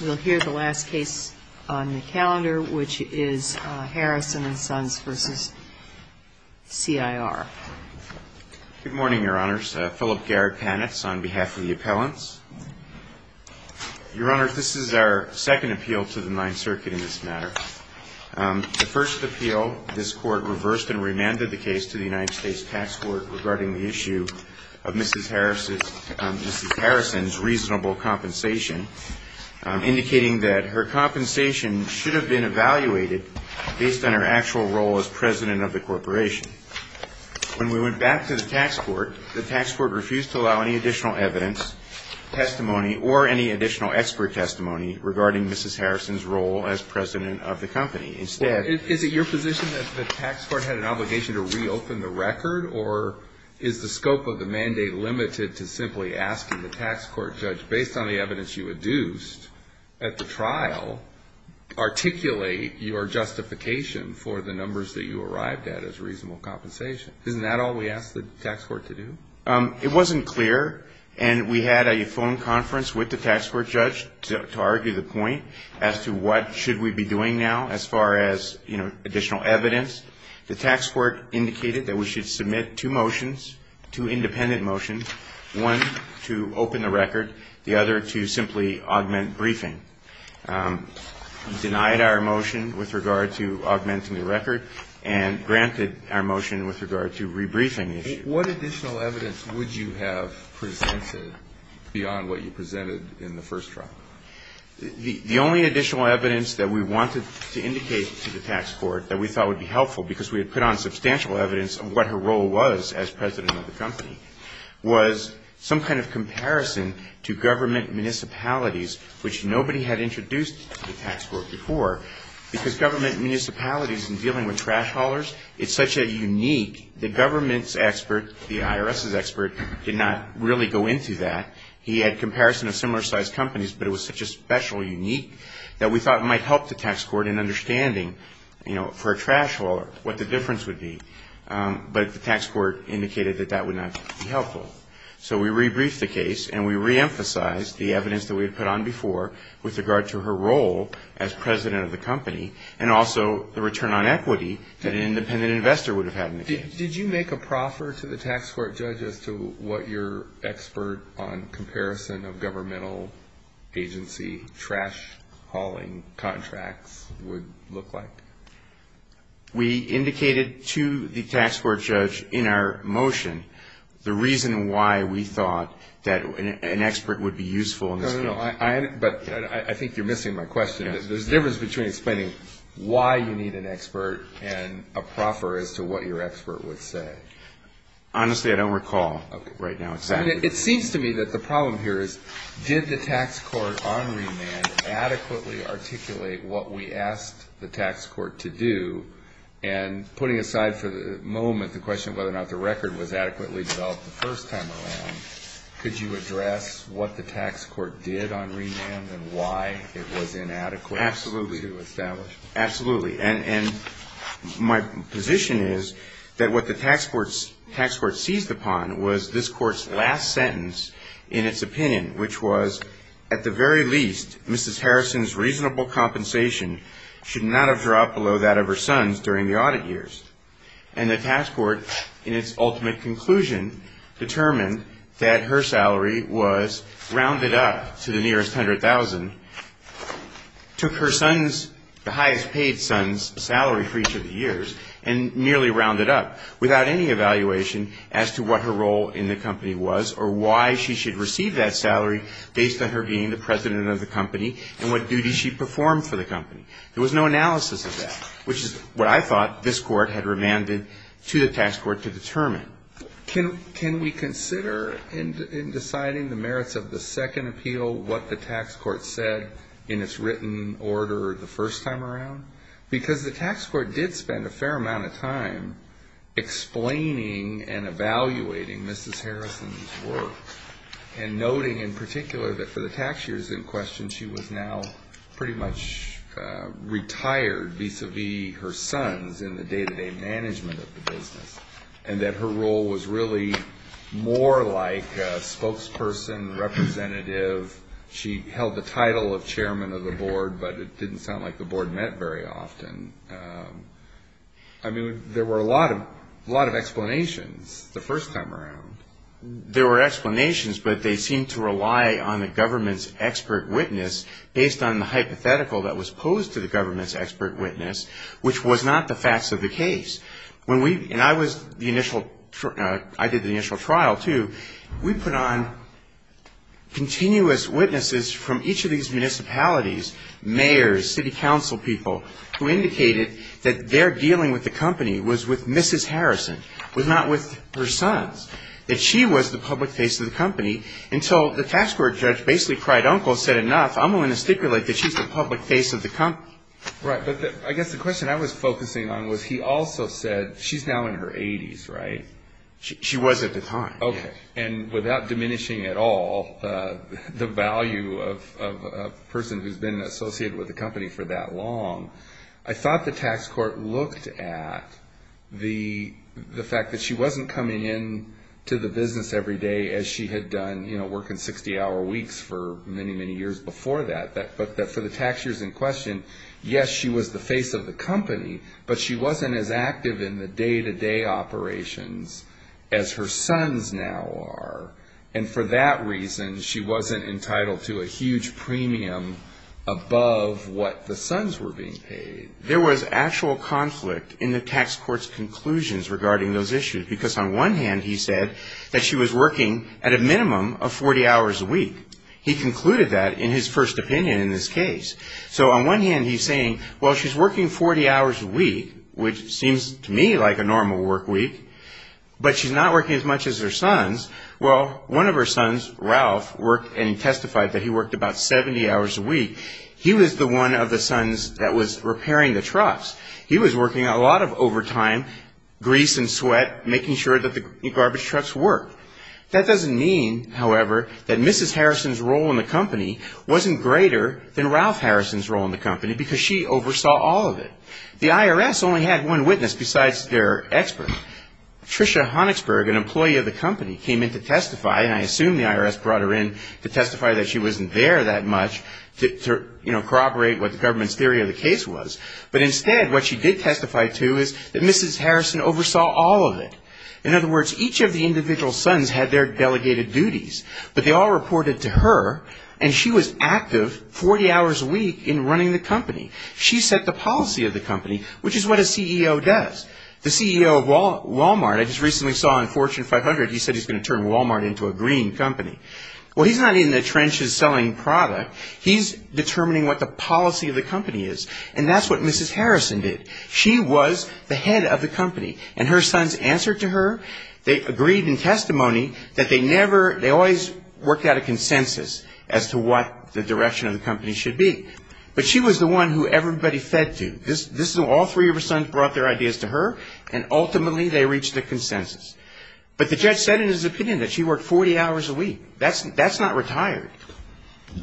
We'll hear the last case on the calendar, which is Harrison & Sons v. CIR. Good morning, Your Honors. Philip Garrett Panitz on behalf of the appellants. Your Honors, this is our second appeal to the Ninth Circuit in this matter. The first appeal, this Court reversed and remanded the case to the United States Tax Court regarding the issue of Mrs. Harrison's reasonable compensation, indicating that her compensation should have been evaluated based on her actual role as president of the corporation. When we went back to the tax court, the tax court refused to allow any additional evidence, testimony, or any additional expert testimony regarding Mrs. Harrison's role as president of the company. Is it your position that the tax court had an obligation to reopen the record, or is the scope of the mandate limited to simply asking the tax court judge, based on the evidence you adduced at the trial, articulate your justification for the numbers that you arrived at as reasonable compensation? Isn't that all we asked the tax court to do? It wasn't clear, and we had a phone conference with the tax court judge to argue the point as to what should we be doing now as far as additional evidence. The tax court indicated that we should submit two motions, two independent motions, one to open the record, the other to simply augment briefing. It denied our motion with regard to augmenting the record and granted our motion with regard to rebriefing the issue. What additional evidence would you have presented beyond what you presented in the first trial? The only additional evidence that we wanted to indicate to the tax court that we thought would be helpful because we had put on substantial evidence of what her role was as president of the company was some kind of comparison to government municipalities, which nobody had introduced to the tax court before, because government municipalities in dealing with trash haulers, it's such a unique, the government's expert, the IRS's expert, did not really go into that. He had comparison of similar-sized companies, but it was such a special, unique, that we thought it might help the tax court in understanding, you know, for a trash hauler what the difference would be. But the tax court indicated that that would not be helpful. So we rebriefed the case, and we reemphasized the evidence that we had put on before with regard to her role as president of the company and also the return on equity that an independent investor would have had in the case. Did you make a proffer to the tax court judge as to what your expert on comparison of governmental agency trash hauling contracts would look like? We indicated to the tax court judge in our motion the reason why we thought that an expert would be useful. No, no, no. But I think you're missing my question. There's a difference between explaining why you need an expert and a proffer as to what your expert would say. Honestly, I don't recall right now exactly. It seems to me that the problem here is did the tax court on remand adequately articulate what we asked the tax court to do? And putting aside for the moment the question of whether or not the record was adequately developed the first time around, could you address what the tax court did on remand and why it was inadequate to establish? Absolutely. And my position is that what the tax court seized upon was this court's last sentence in its opinion, which was at the very least Mrs. Harrison's reasonable compensation should not have dropped below that of her son's during the audit years. And the tax court, in its ultimate conclusion, determined that her salary was rounded up to the nearest $100,000, took her son's, the highest paid son's, salary for each of the years and nearly rounded up without any evaluation as to what her role in the company was or why she should receive that salary based on her being the president of the company and what duties she performed for the company. There was no analysis of that, which is what I thought this court had remanded to the tax court to determine. Can we consider in deciding the merits of the second appeal what the tax court said in its written order the first time around? Because the tax court did spend a fair amount of time explaining and evaluating Mrs. Harrison's work and noting in particular that for the tax years in question she was now pretty much retired vis-à-vis her sons in the day-to-day management of the business and that her role was really more like a spokesperson, representative. She held the title of chairman of the board, but it didn't sound like the board met very often. I mean, there were a lot of explanations the first time around. There were explanations, but they seemed to rely on the government's expert witness based on the hypothetical that was posed to the government's expert witness, which was not the facts of the case. When we, and I was the initial, I did the initial trial too, we put on continuous witnesses from each of these municipalities, mayors, city council people, who indicated that their dealing with the company was with Mrs. Harrison, was not with her sons, that she was the public face of the company. And so the tax court judge basically cried uncle, said, enough, I'm going to stipulate that she's the public face of the company. Right. But I guess the question I was focusing on was he also said she's now in her 80s, right? She was at the time. Okay. And without diminishing at all the value of a person who's been associated with the company for that long, I thought the tax court looked at the fact that she wasn't coming in to the business every day as she had done, you know, working 60-hour weeks for many, many years before that. But for the tax years in question, yes, she was the face of the company, but she wasn't as active in the day-to-day operations as her sons now are. And for that reason, she wasn't entitled to a huge premium above what the sons were being paid. There was actual conflict in the tax court's conclusions regarding those issues, because on one hand he said that she was working at a minimum of 40 hours a week. He concluded that in his first opinion in this case. So on one hand he's saying, well, she's working 40 hours a week, which seems to me like a normal work week, but she's not working as much as her sons. Well, one of her sons, Ralph, worked and testified that he worked about 70 hours a week. He was the one of the sons that was repairing the trucks. He was working a lot of overtime, grease and sweat, making sure that the garbage trucks worked. That doesn't mean, however, that Mrs. Harrison's role in the company wasn't greater than Ralph Harrison's role in the company, because she oversaw all of it. The IRS only had one witness besides their expert. Trisha Honigsberg, an employee of the company, came in to testify, and I assume the IRS brought her in to testify that she wasn't there that much to corroborate what the government's theory of the case was. But instead what she did testify to is that Mrs. Harrison oversaw all of it. In other words, each of the individual sons had their delegated duties, but they all reported to her, and she was active 40 hours a week in running the company. She set the policy of the company, which is what a CEO does. The CEO of Wal-Mart, I just recently saw on Fortune 500, he said he's going to turn Wal-Mart into a green company. Well, he's not in the trenches selling product. He's determining what the policy of the company is, and that's what Mrs. Harrison did. She was the head of the company, and her sons answered to her. They agreed in testimony that they never they always worked out a consensus as to what the direction of the company should be. But she was the one who everybody fed to. All three of her sons brought their ideas to her, and ultimately they reached a consensus. But the judge said in his opinion that she worked 40 hours a week. That's not retired.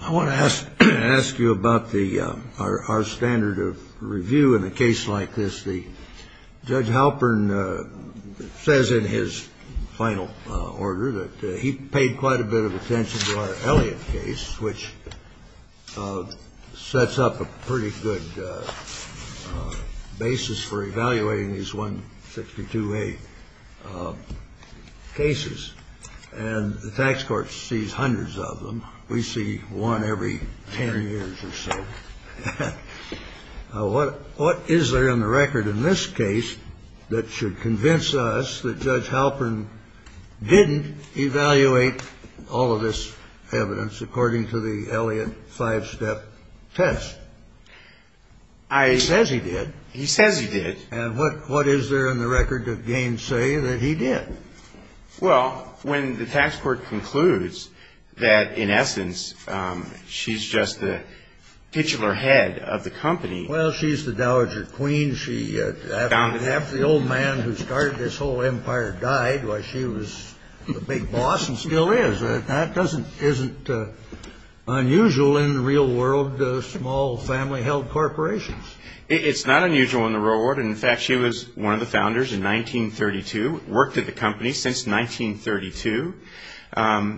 I want to ask you about our standard of review in a case like this. Judge Halpern says in his final order that he paid quite a bit of attention to our Elliott case, which sets up a pretty good basis for evaluating these 162A cases. And the tax court sees hundreds of them. We see one every 10 years or so. What is there in the record in this case that should convince us that Judge Halpern didn't evaluate all of this evidence according to the Elliott five-step test? He says he did. He says he did. And what is there in the record that gains say that he did? Well, when the tax court concludes that, in essence, she's just the titular head of the company. Well, she's the Dowager Queen. Half the old man who started this whole empire died while she was the big boss and still is. That isn't unusual in the real world to small family-held corporations. It's not unusual in the real world. And, in fact, she was one of the founders in 1932, worked at the company since 1932.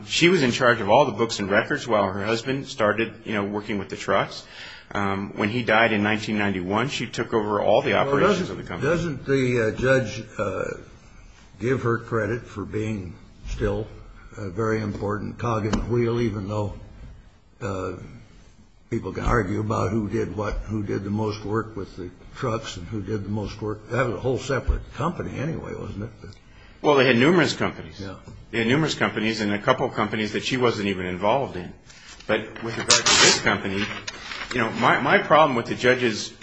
She was in charge of all the books and records while her husband started, you know, working with the trucks. When he died in 1991, she took over all the operations of the company. Doesn't the judge give her credit for being still a very important cog in the wheel, even though people can argue about who did what, who did the most work with the trucks and who did the most work? That was a whole separate company anyway, wasn't it? Well, they had numerous companies. They had numerous companies and a couple companies that she wasn't even involved in. But with regard to this company, you know, my problem with the judge's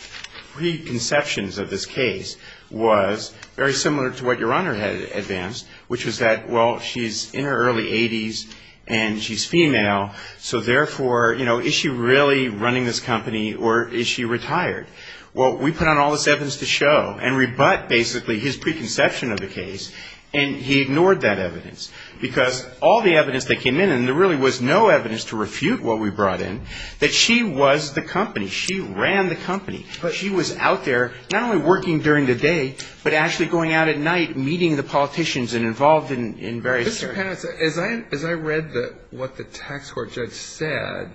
preconceptions of this case was very similar to what Your Honor had advanced, which was that, well, she's in her early 80s and she's female, so therefore, you know, is she really running this company or is she retired? Well, we put on all this evidence to show and rebut basically his preconception of the case, and he ignored that evidence. Because all the evidence that came in, and there really was no evidence to refute what we brought in, that she was the company. She ran the company. But she was out there, not only working during the day, but actually going out at night, meeting the politicians and involved in various things. Mr. Pannis, as I read what the tax court judge said,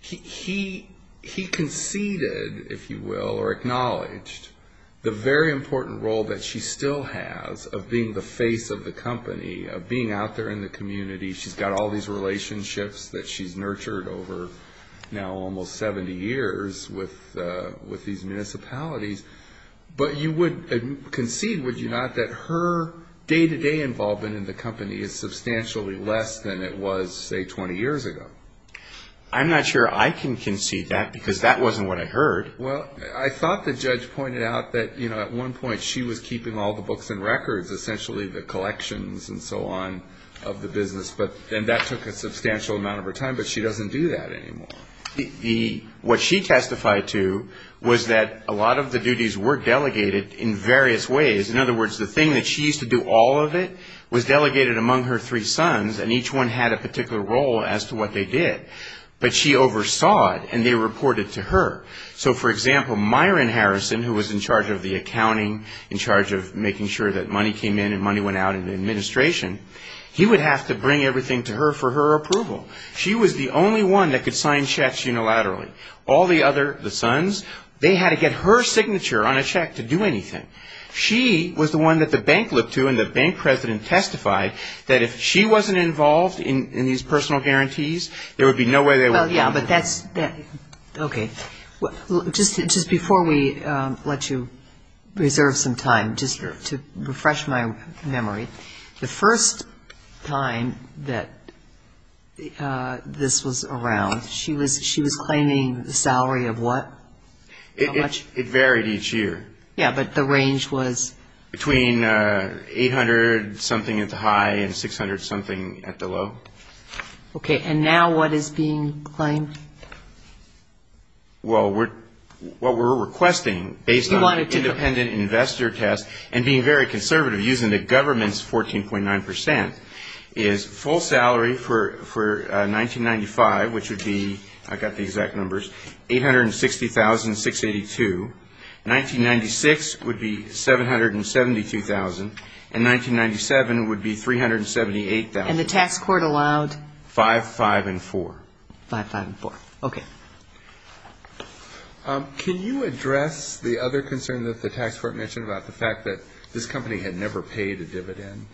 he conceded, if you will, or acknowledged, the very important role that she still has of being the face of the company, of being out there in the community. She's got all these relationships that she's nurtured over now almost 70 years with these municipalities. But you would concede, would you not, that her day-to-day involvement in the company is substantially less than it was, say, 20 years ago? I'm not sure I can concede that, because that wasn't what I heard. Well, I thought the judge pointed out that, you know, at one point she was keeping all the books and records, essentially the collections and so on, of the business. And that took a substantial amount of her time, but she doesn't do that anymore. What she testified to was that a lot of the duties were delegated in various ways. In other words, the thing that she used to do all of it was delegated among her three sons, and each one had a particular role as to what they did. But she oversaw it, and they reported to her. So, for example, Myron Harrison, who was in charge of the accounting, in charge of making sure that money came in and money went out in the administration, he would have to bring everything to her for her approval. She was the only one that could sign checks unilaterally. All the other, the sons, they had to get her signature on a check to do anything. She was the one that the bank looked to, and the bank president testified that if she wasn't involved in these personal guarantees, there would be no way they would have done it. Okay. Just before we let you reserve some time, just to refresh my memory, the first time that this was around, she was claiming the salary of what? It varied each year. Yeah, but the range was? Between 800-something at the high and 600-something at the low. Okay, and now what is being claimed? Well, what we're requesting, based on the independent investor test, and being very conservative using the government's 14.9 percent, is full salary for 1995, which would be, I've got the exact numbers, 860,682. 1996 would be 772,000. And 1997 would be 378,000. And the tax court allowed? 5, 5, and 4. 5, 5, and 4. Okay. Can you address the other concern that the tax court mentioned about the fact that this company had never paid a dividend?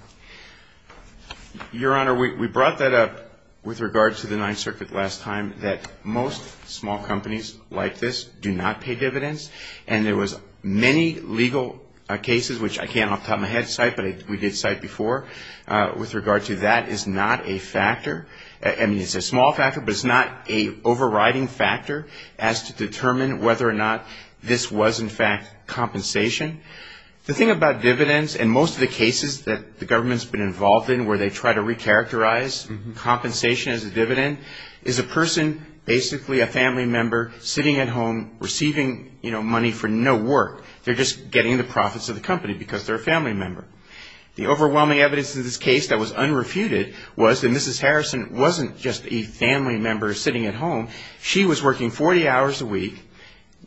Your Honor, we brought that up with regard to the Ninth Circuit last time, that most small companies like this do not pay dividends, and there was many legal cases, which I can't off the top of my head cite, but we did cite before, with regard to that is not a factor. I mean, it's a small factor, but it's not an overriding factor as to determine whether or not this was, in fact, compensation. The thing about dividends, and most of the cases that the government's been involved in where they try to recharacterize compensation as a dividend, is a person, basically a family member, sitting at home receiving money for no work. They're just getting the profits of the company because they're a family member. The overwhelming evidence in this case that was unrefuted was that Mrs. Harrison wasn't just a family member sitting at home. She was working 40 hours a week,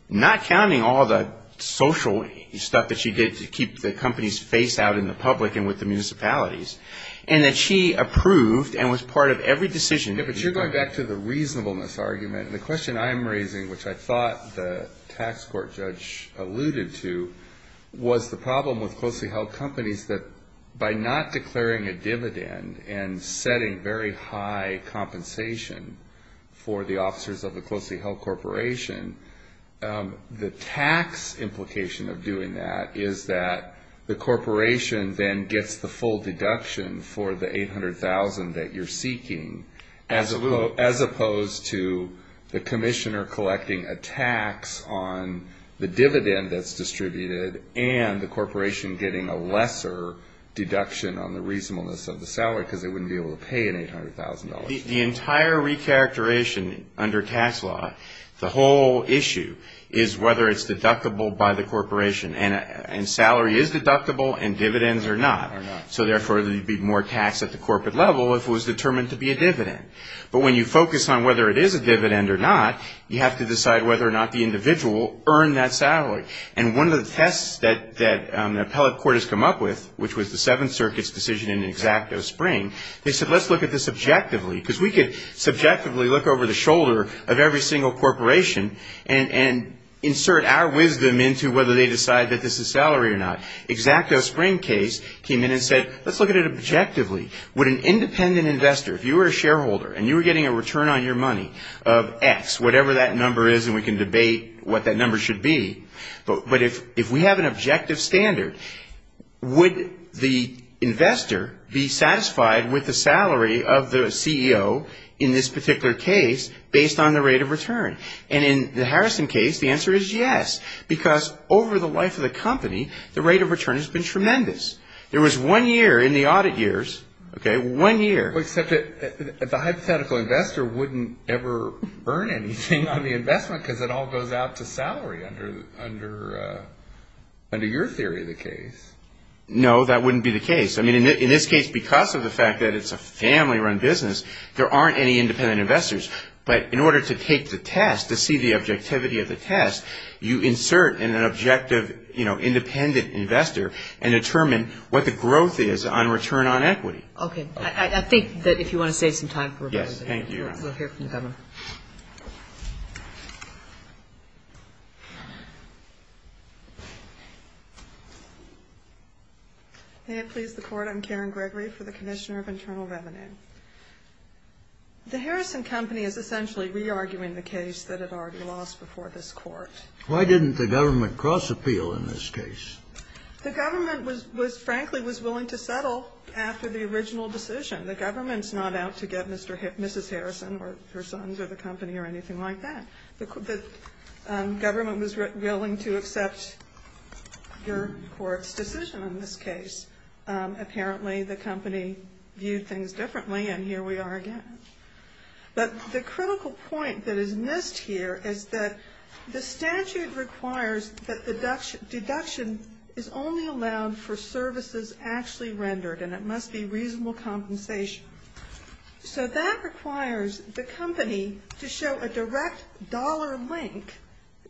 not counting all the social stuff that she did to keep the company's face out in the public and with the municipalities, and that she approved and was part of every decision. Yeah, but you're going back to the reasonableness argument. The question I'm raising, which I thought the tax court judge alluded to, was the problem with closely held companies that by not declaring a dividend and setting very high compensation for the officers of the closely held corporation, the tax implication of doing that is that the corporation then gets the full deduction for the $800,000 that you're seeking. As opposed to the commissioner collecting a tax on the dividend that's distributed and the corporation getting a lesser deduction on the reasonableness of the salary because they wouldn't be able to pay an $800,000. The entire recharacterization under tax law, the whole issue is whether it's deductible by the corporation. And salary is deductible and dividends are not. So, therefore, there would be more tax at the corporate level if it was determined to be a dividend. But when you focus on whether it is a dividend or not, you have to decide whether or not the individual earned that salary. And one of the tests that the appellate court has come up with, which was the Seventh Circuit's decision in Xacto Spring, they said let's look at this objectively because we could subjectively look over the shoulder of every single corporation and insert our wisdom into whether they decide that this is salary or not. Xacto Spring case came in and said let's look at it objectively. Would an independent investor, if you were a shareholder and you were getting a return on your money of X, whatever that number is and we can debate what that number should be, but if we have an objective standard, would the investor be satisfied with the salary of the CEO in this particular case based on the rate of return? And in the Harrison case, the answer is yes because over the life of the company, the rate of return has been tremendous. There was one year in the audit years, okay, one year. Except that the hypothetical investor wouldn't ever earn anything on the investment because it all goes out to salary under your theory of the case. No, that wouldn't be the case. I mean, in this case, because of the fact that it's a family-run business, there aren't any independent investors. But in order to take the test, to see the objectivity of the test, you insert an objective, you know, independent investor and determine what the growth is on return on equity. Okay. I think that if you want to save some time for rebuttal. Yes, thank you. We'll hear from the Governor. May it please the Court, I'm Karen Gregory for the Commissioner of Internal Revenue. The Harrison Company is essentially re-arguing the case that it already lost before this Court. Why didn't the government cross-appeal in this case? The government was frankly was willing to settle after the original decision. The government's not out to get Mrs. Harrison or her sons or the company or anything like that. The government was willing to accept your Court's decision on this case. Apparently, the company viewed things differently, and here we are again. But the critical point that is missed here is that the statute requires that the deduction is only allowed for services actually rendered, and it must be reasonable compensation. So that requires the company to show a direct dollar link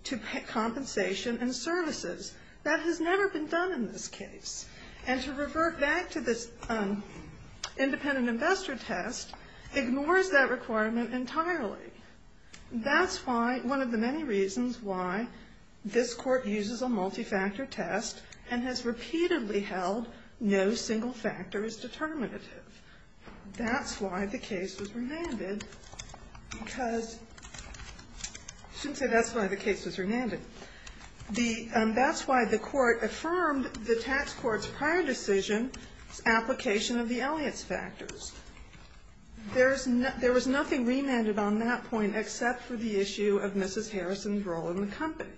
to compensation and services. That has never been done in this case. And to revert back to this independent investor test ignores that requirement entirely. That's why one of the many reasons why this Court uses a multi-factor test and has repeatedly held no single factor is determinative. That's why the case was remanded because you shouldn't say that's why the case was remanded. That's why the Court affirmed the tax court's prior decision's application of the Elliott's factors. There was nothing remanded on that point except for the issue of Mrs. Harrison's role in the company.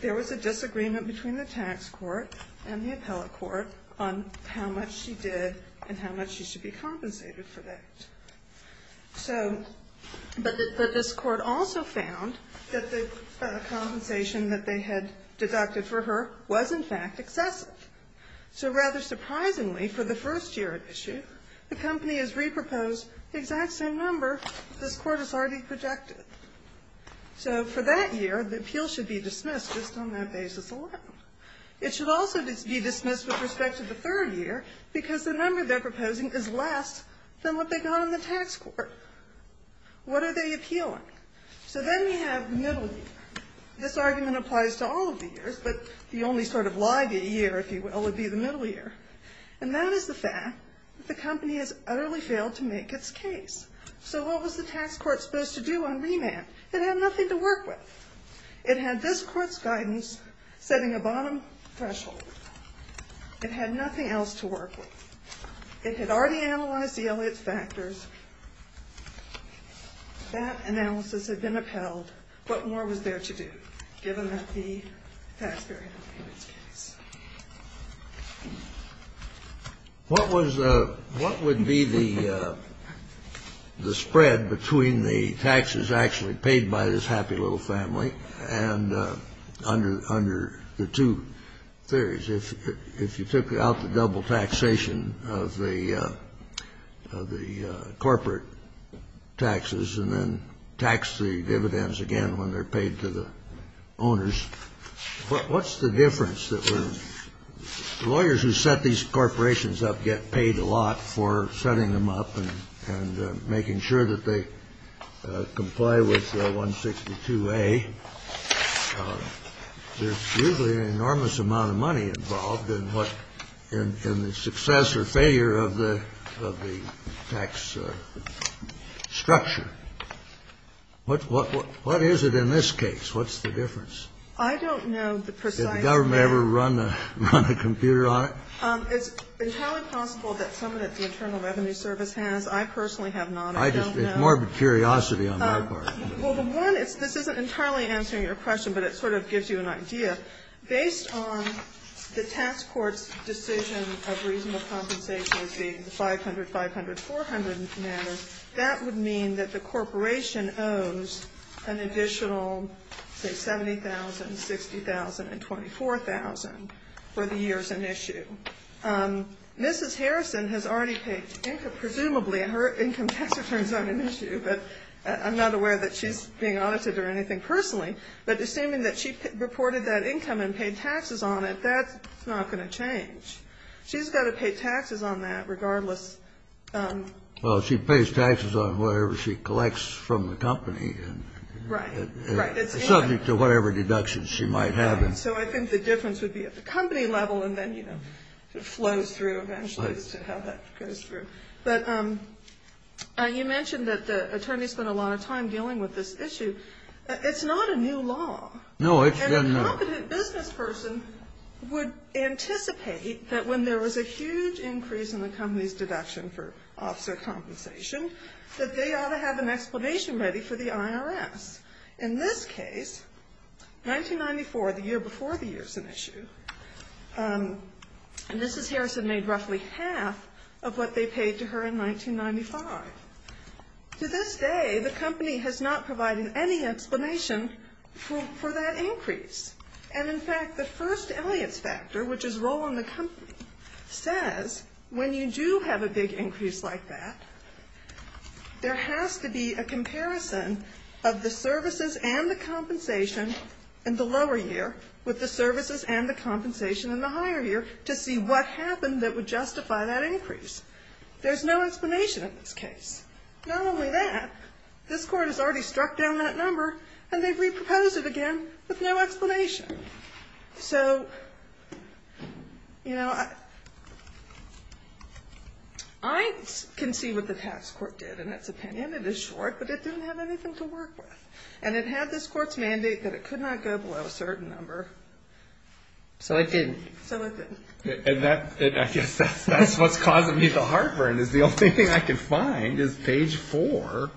There was a disagreement between the tax court and the appellate court on how much she did and how much she should be compensated for that. So, but this Court also found that the compensation that they had deducted for her was, in fact, excessive. So rather surprisingly, for the first year at issue, the company has reproposed the exact same number this Court has already projected. So for that year, the appeal should be dismissed just on that basis alone. It should also be dismissed with respect to the third year because the number they're not on the tax court. What are they appealing? So then we have the middle year. This argument applies to all of the years, but the only sort of laggy year, if you will, would be the middle year. And that is the fact that the company has utterly failed to make its case. So what was the tax court supposed to do on remand? It had nothing to work with. It had this Court's guidance setting a bottom threshold. It had nothing else to work with. It had already analyzed the Elliot's factors. That analysis had been upheld. What more was there to do, given that the taxpayer had made its case? What was the ‑‑ what would be the spread between the taxes actually paid by this happy little family and under the two theories? If you took out the double taxation of the corporate taxes and then tax the dividends again when they're paid to the owners, what's the difference? The lawyers who set these corporations up get paid a lot for setting them up and making sure that they comply with 162A. There's usually an enormous amount of money involved in what ‑‑ in the success or failure of the tax structure. What is it in this case? What's the difference? I don't know the precise answer. Did the government ever run a computer on it? It's entirely possible that someone at the Internal Revenue Service has. I personally have not. I don't know. It's morbid curiosity on my part. Well, the one ‑‑ this isn't entirely answering your question, but it sort of gives you an idea. Based on the tax court's decision of reasonable compensation being the 500, 500, 400 matter, that would mean that the corporation owes an additional, say, 70,000, 60,000, and 24,000 for the years in issue. Mrs. Harrison has already paid, presumably, her income tax returns on an issue, but I'm not aware that she's being audited or anything personally. But assuming that she reported that income and paid taxes on it, that's not going to change. She's got to pay taxes on that regardless. Well, she pays taxes on whatever she collects from the company. Right. Subject to whatever deductions she might have. So I think the difference would be at the company level and then, you know, it flows through eventually as to how that goes through. But you mentioned that the attorney spent a lot of time dealing with this issue. It's not a new law. No, it's been ‑‑ And a competent business person would anticipate that when there was a huge increase in the company's deduction for officer compensation, that they ought to have an explanation ready for the IRS. In this case, 1994, the year before the years in issue, Mrs. Harrison made roughly half of what they paid to her in 1995. To this day, the company has not provided any explanation for that increase. And, in fact, the first Elliott's factor, which is role in the company, says when you do have a big increase like that, there has to be a comparison of the services and the compensation in the lower year with the services and the compensation in the higher year to see what happened that would justify that increase. There's no explanation in this case. Not only that, this court has already struck down that number and they've reproposed it again with no explanation. So, you know, I can see what the task court did in its opinion. It is short, but it didn't have anything to work with. And it had this court's mandate that it could not go below a certain number. So it didn't. So it didn't. And I guess that's what's causing me the heartburn is the only thing I can find is page 4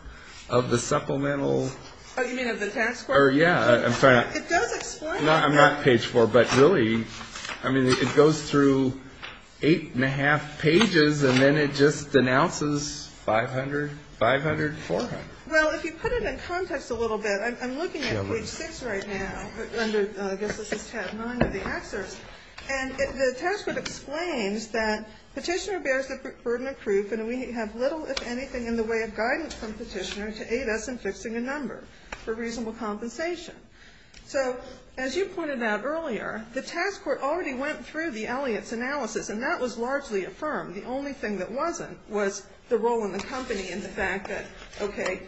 of the supplemental. Oh, you mean of the task court? Yeah. It does explain it. I'm not page 4, but really, I mean, it goes through 8 1⁄2 pages and then it just denounces 500, 500, 400. Well, if you put it in context a little bit, I'm looking at page 6 right now. I guess this is tab 9 of the excerpt. And the task court explains that Petitioner bears the burden of proof and we have little, if anything, in the way of guidance from Petitioner to aid us in fixing a number for reasonable compensation. So as you pointed out earlier, the task court already went through the Elliott's analysis and that was largely affirmed. The only thing that wasn't was the role in the company and the fact that, okay,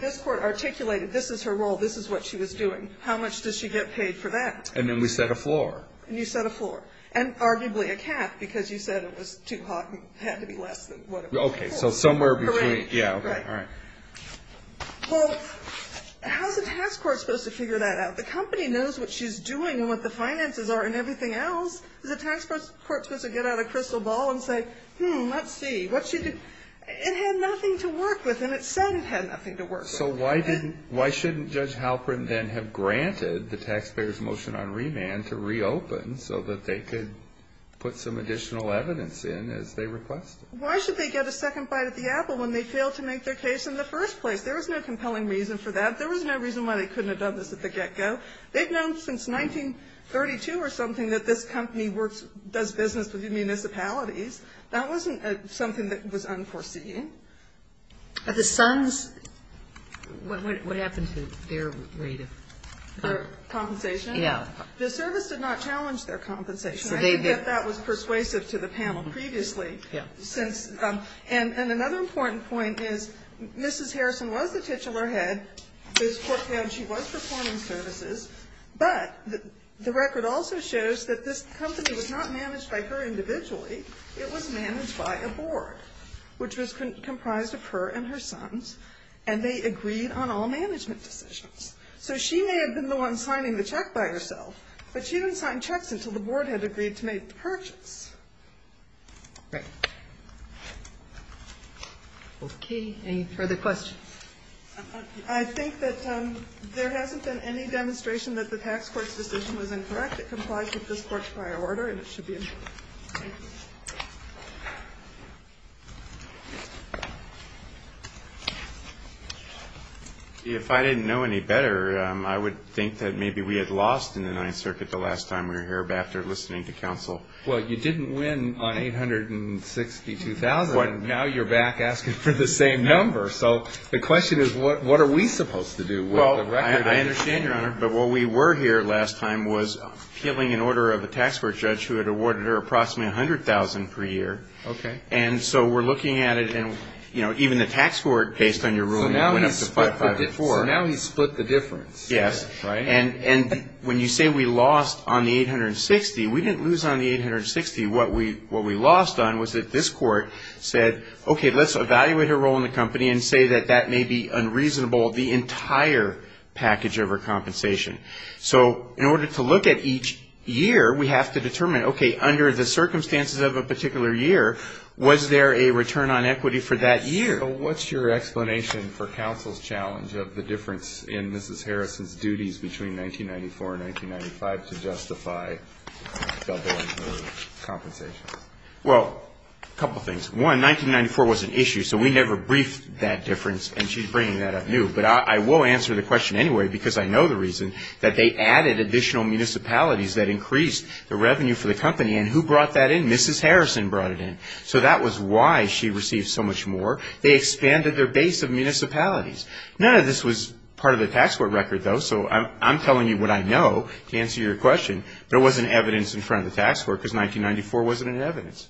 this court articulated this is her role, this is what she was doing. How much does she get paid for that? And then we set a floor. And you set a floor. And arguably a cap because you said it was too hot and it had to be less than what it was before. Okay, so somewhere between. Correct. Yeah, okay, all right. Well, how's the task court supposed to figure that out? The company knows what she's doing and what the finances are and everything else. Does the task court supposed to get out a crystal ball and say, hmm, let's see, what she did? It had nothing to work with and it said it had nothing to work with. So why didn't why shouldn't Judge Halperin then have granted the taxpayers' motion on remand to reopen so that they could put some additional evidence in as they requested? Why should they get a second bite at the apple when they failed to make their case in the first place? There was no compelling reason for that. There was no reason why they couldn't have done this at the get-go. They've known since 1932 or something that this company works, does business with municipalities. That wasn't something that was unforeseen. But the Sons, what happened to their rate of? Their compensation? Yeah. The service did not challenge their compensation. I think that that was persuasive to the panel previously. Yeah. And another important point is Mrs. Harrison was the titular head. This Court found she was performing services, but the record also shows that this company was not managed by her individually. It was managed by a board, which was comprised of her and her sons, and they agreed on all management decisions. So she may have been the one signing the check by herself, but she didn't sign checks until the board had agreed to make the purchase. Right. Okay. Any further questions? I think that there hasn't been any demonstration that the tax court's decision was incorrect. It complies with this Court's prior order, and it should be approved. Thank you. If I didn't know any better, I would think that maybe we had lost in the Ninth Circuit the last time we were here after listening to counsel. Well, you didn't win on 862,000, and now you're back asking for the same number. So the question is, what are we supposed to do with the record? Well, I understand, Your Honor, but what we were here last time was appealing an order of a tax court judge who had awarded her approximately 100,000 per year. Okay. And so we're looking at it, and, you know, even the tax court, based on your ruling, went up to 554. So now he's split the difference. Yes. Right. And when you say we lost on the 860, we didn't lose on the 860. What we lost on was that this Court said, okay, let's evaluate her role in the company and say that that may be unreasonable the entire package of her compensation. So in order to look at each year, we have to determine, okay, under the circumstances of a particular year, was there a return on equity for that year? So what's your explanation for counsel's challenge of the difference in Mrs. Harrison's duties between 1994 and 1995 to justify doubling her compensation? Well, a couple things. One, 1994 was an issue, so we never briefed that difference, and she's bringing that up new. But I will answer the question anyway because I know the reason, that they added additional municipalities that increased the revenue for the company. And who brought that in? Mrs. Harrison brought it in. So that was why she received so much more. They expanded their base of municipalities. None of this was part of the tax court record, though, so I'm telling you what I know to answer your question. But it wasn't evidence in front of the tax court because 1994 wasn't in evidence.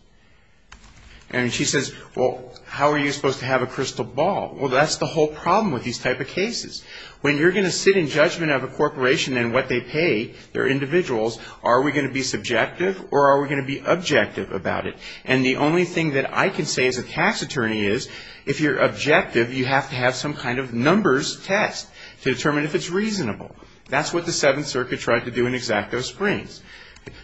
And she says, well, how are you supposed to have a crystal ball? Well, that's the whole problem with these type of cases. When you're going to sit in judgment of a corporation and what they pay their individuals, are we going to be subjective or are we going to be objective about it? And the only thing that I can say as a tax attorney is, if you're objective, you have to have some kind of numbers test to determine if it's reasonable. That's what the Seventh Circuit tried to do in Xacto Springs.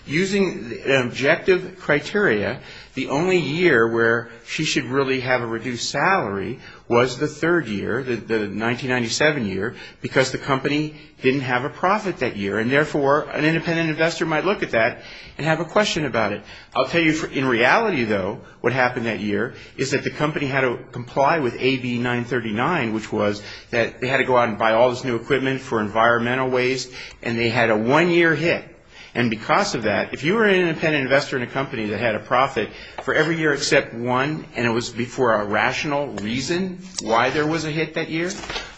Using the objective criteria, the only year where she should really have a reduced salary was the third year, the 1997 year, because the company didn't have a profit that year. And therefore, an independent investor might look at that and have a question about it. I'll tell you in reality, though, what happened that year is that the company had to comply with AB 939, which was that they had to go out and buy all this new equipment for environmental waste, and they had a one-year hit. And because of that, if you were an independent investor in a company that had a profit for every year except one, and it was for a rational reason why there was a hit that year,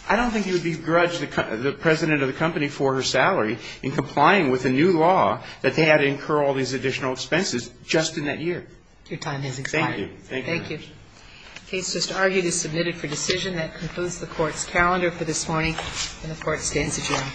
I don't think you would begrudge the president of the company for her salary in complying with a new law that they had to incur all these additional expenses just in that year. Your time has expired. Thank you. Thank you. The case just argued is submitted for decision. That concludes the Court's calendar for this morning. And the Court stands adjourned.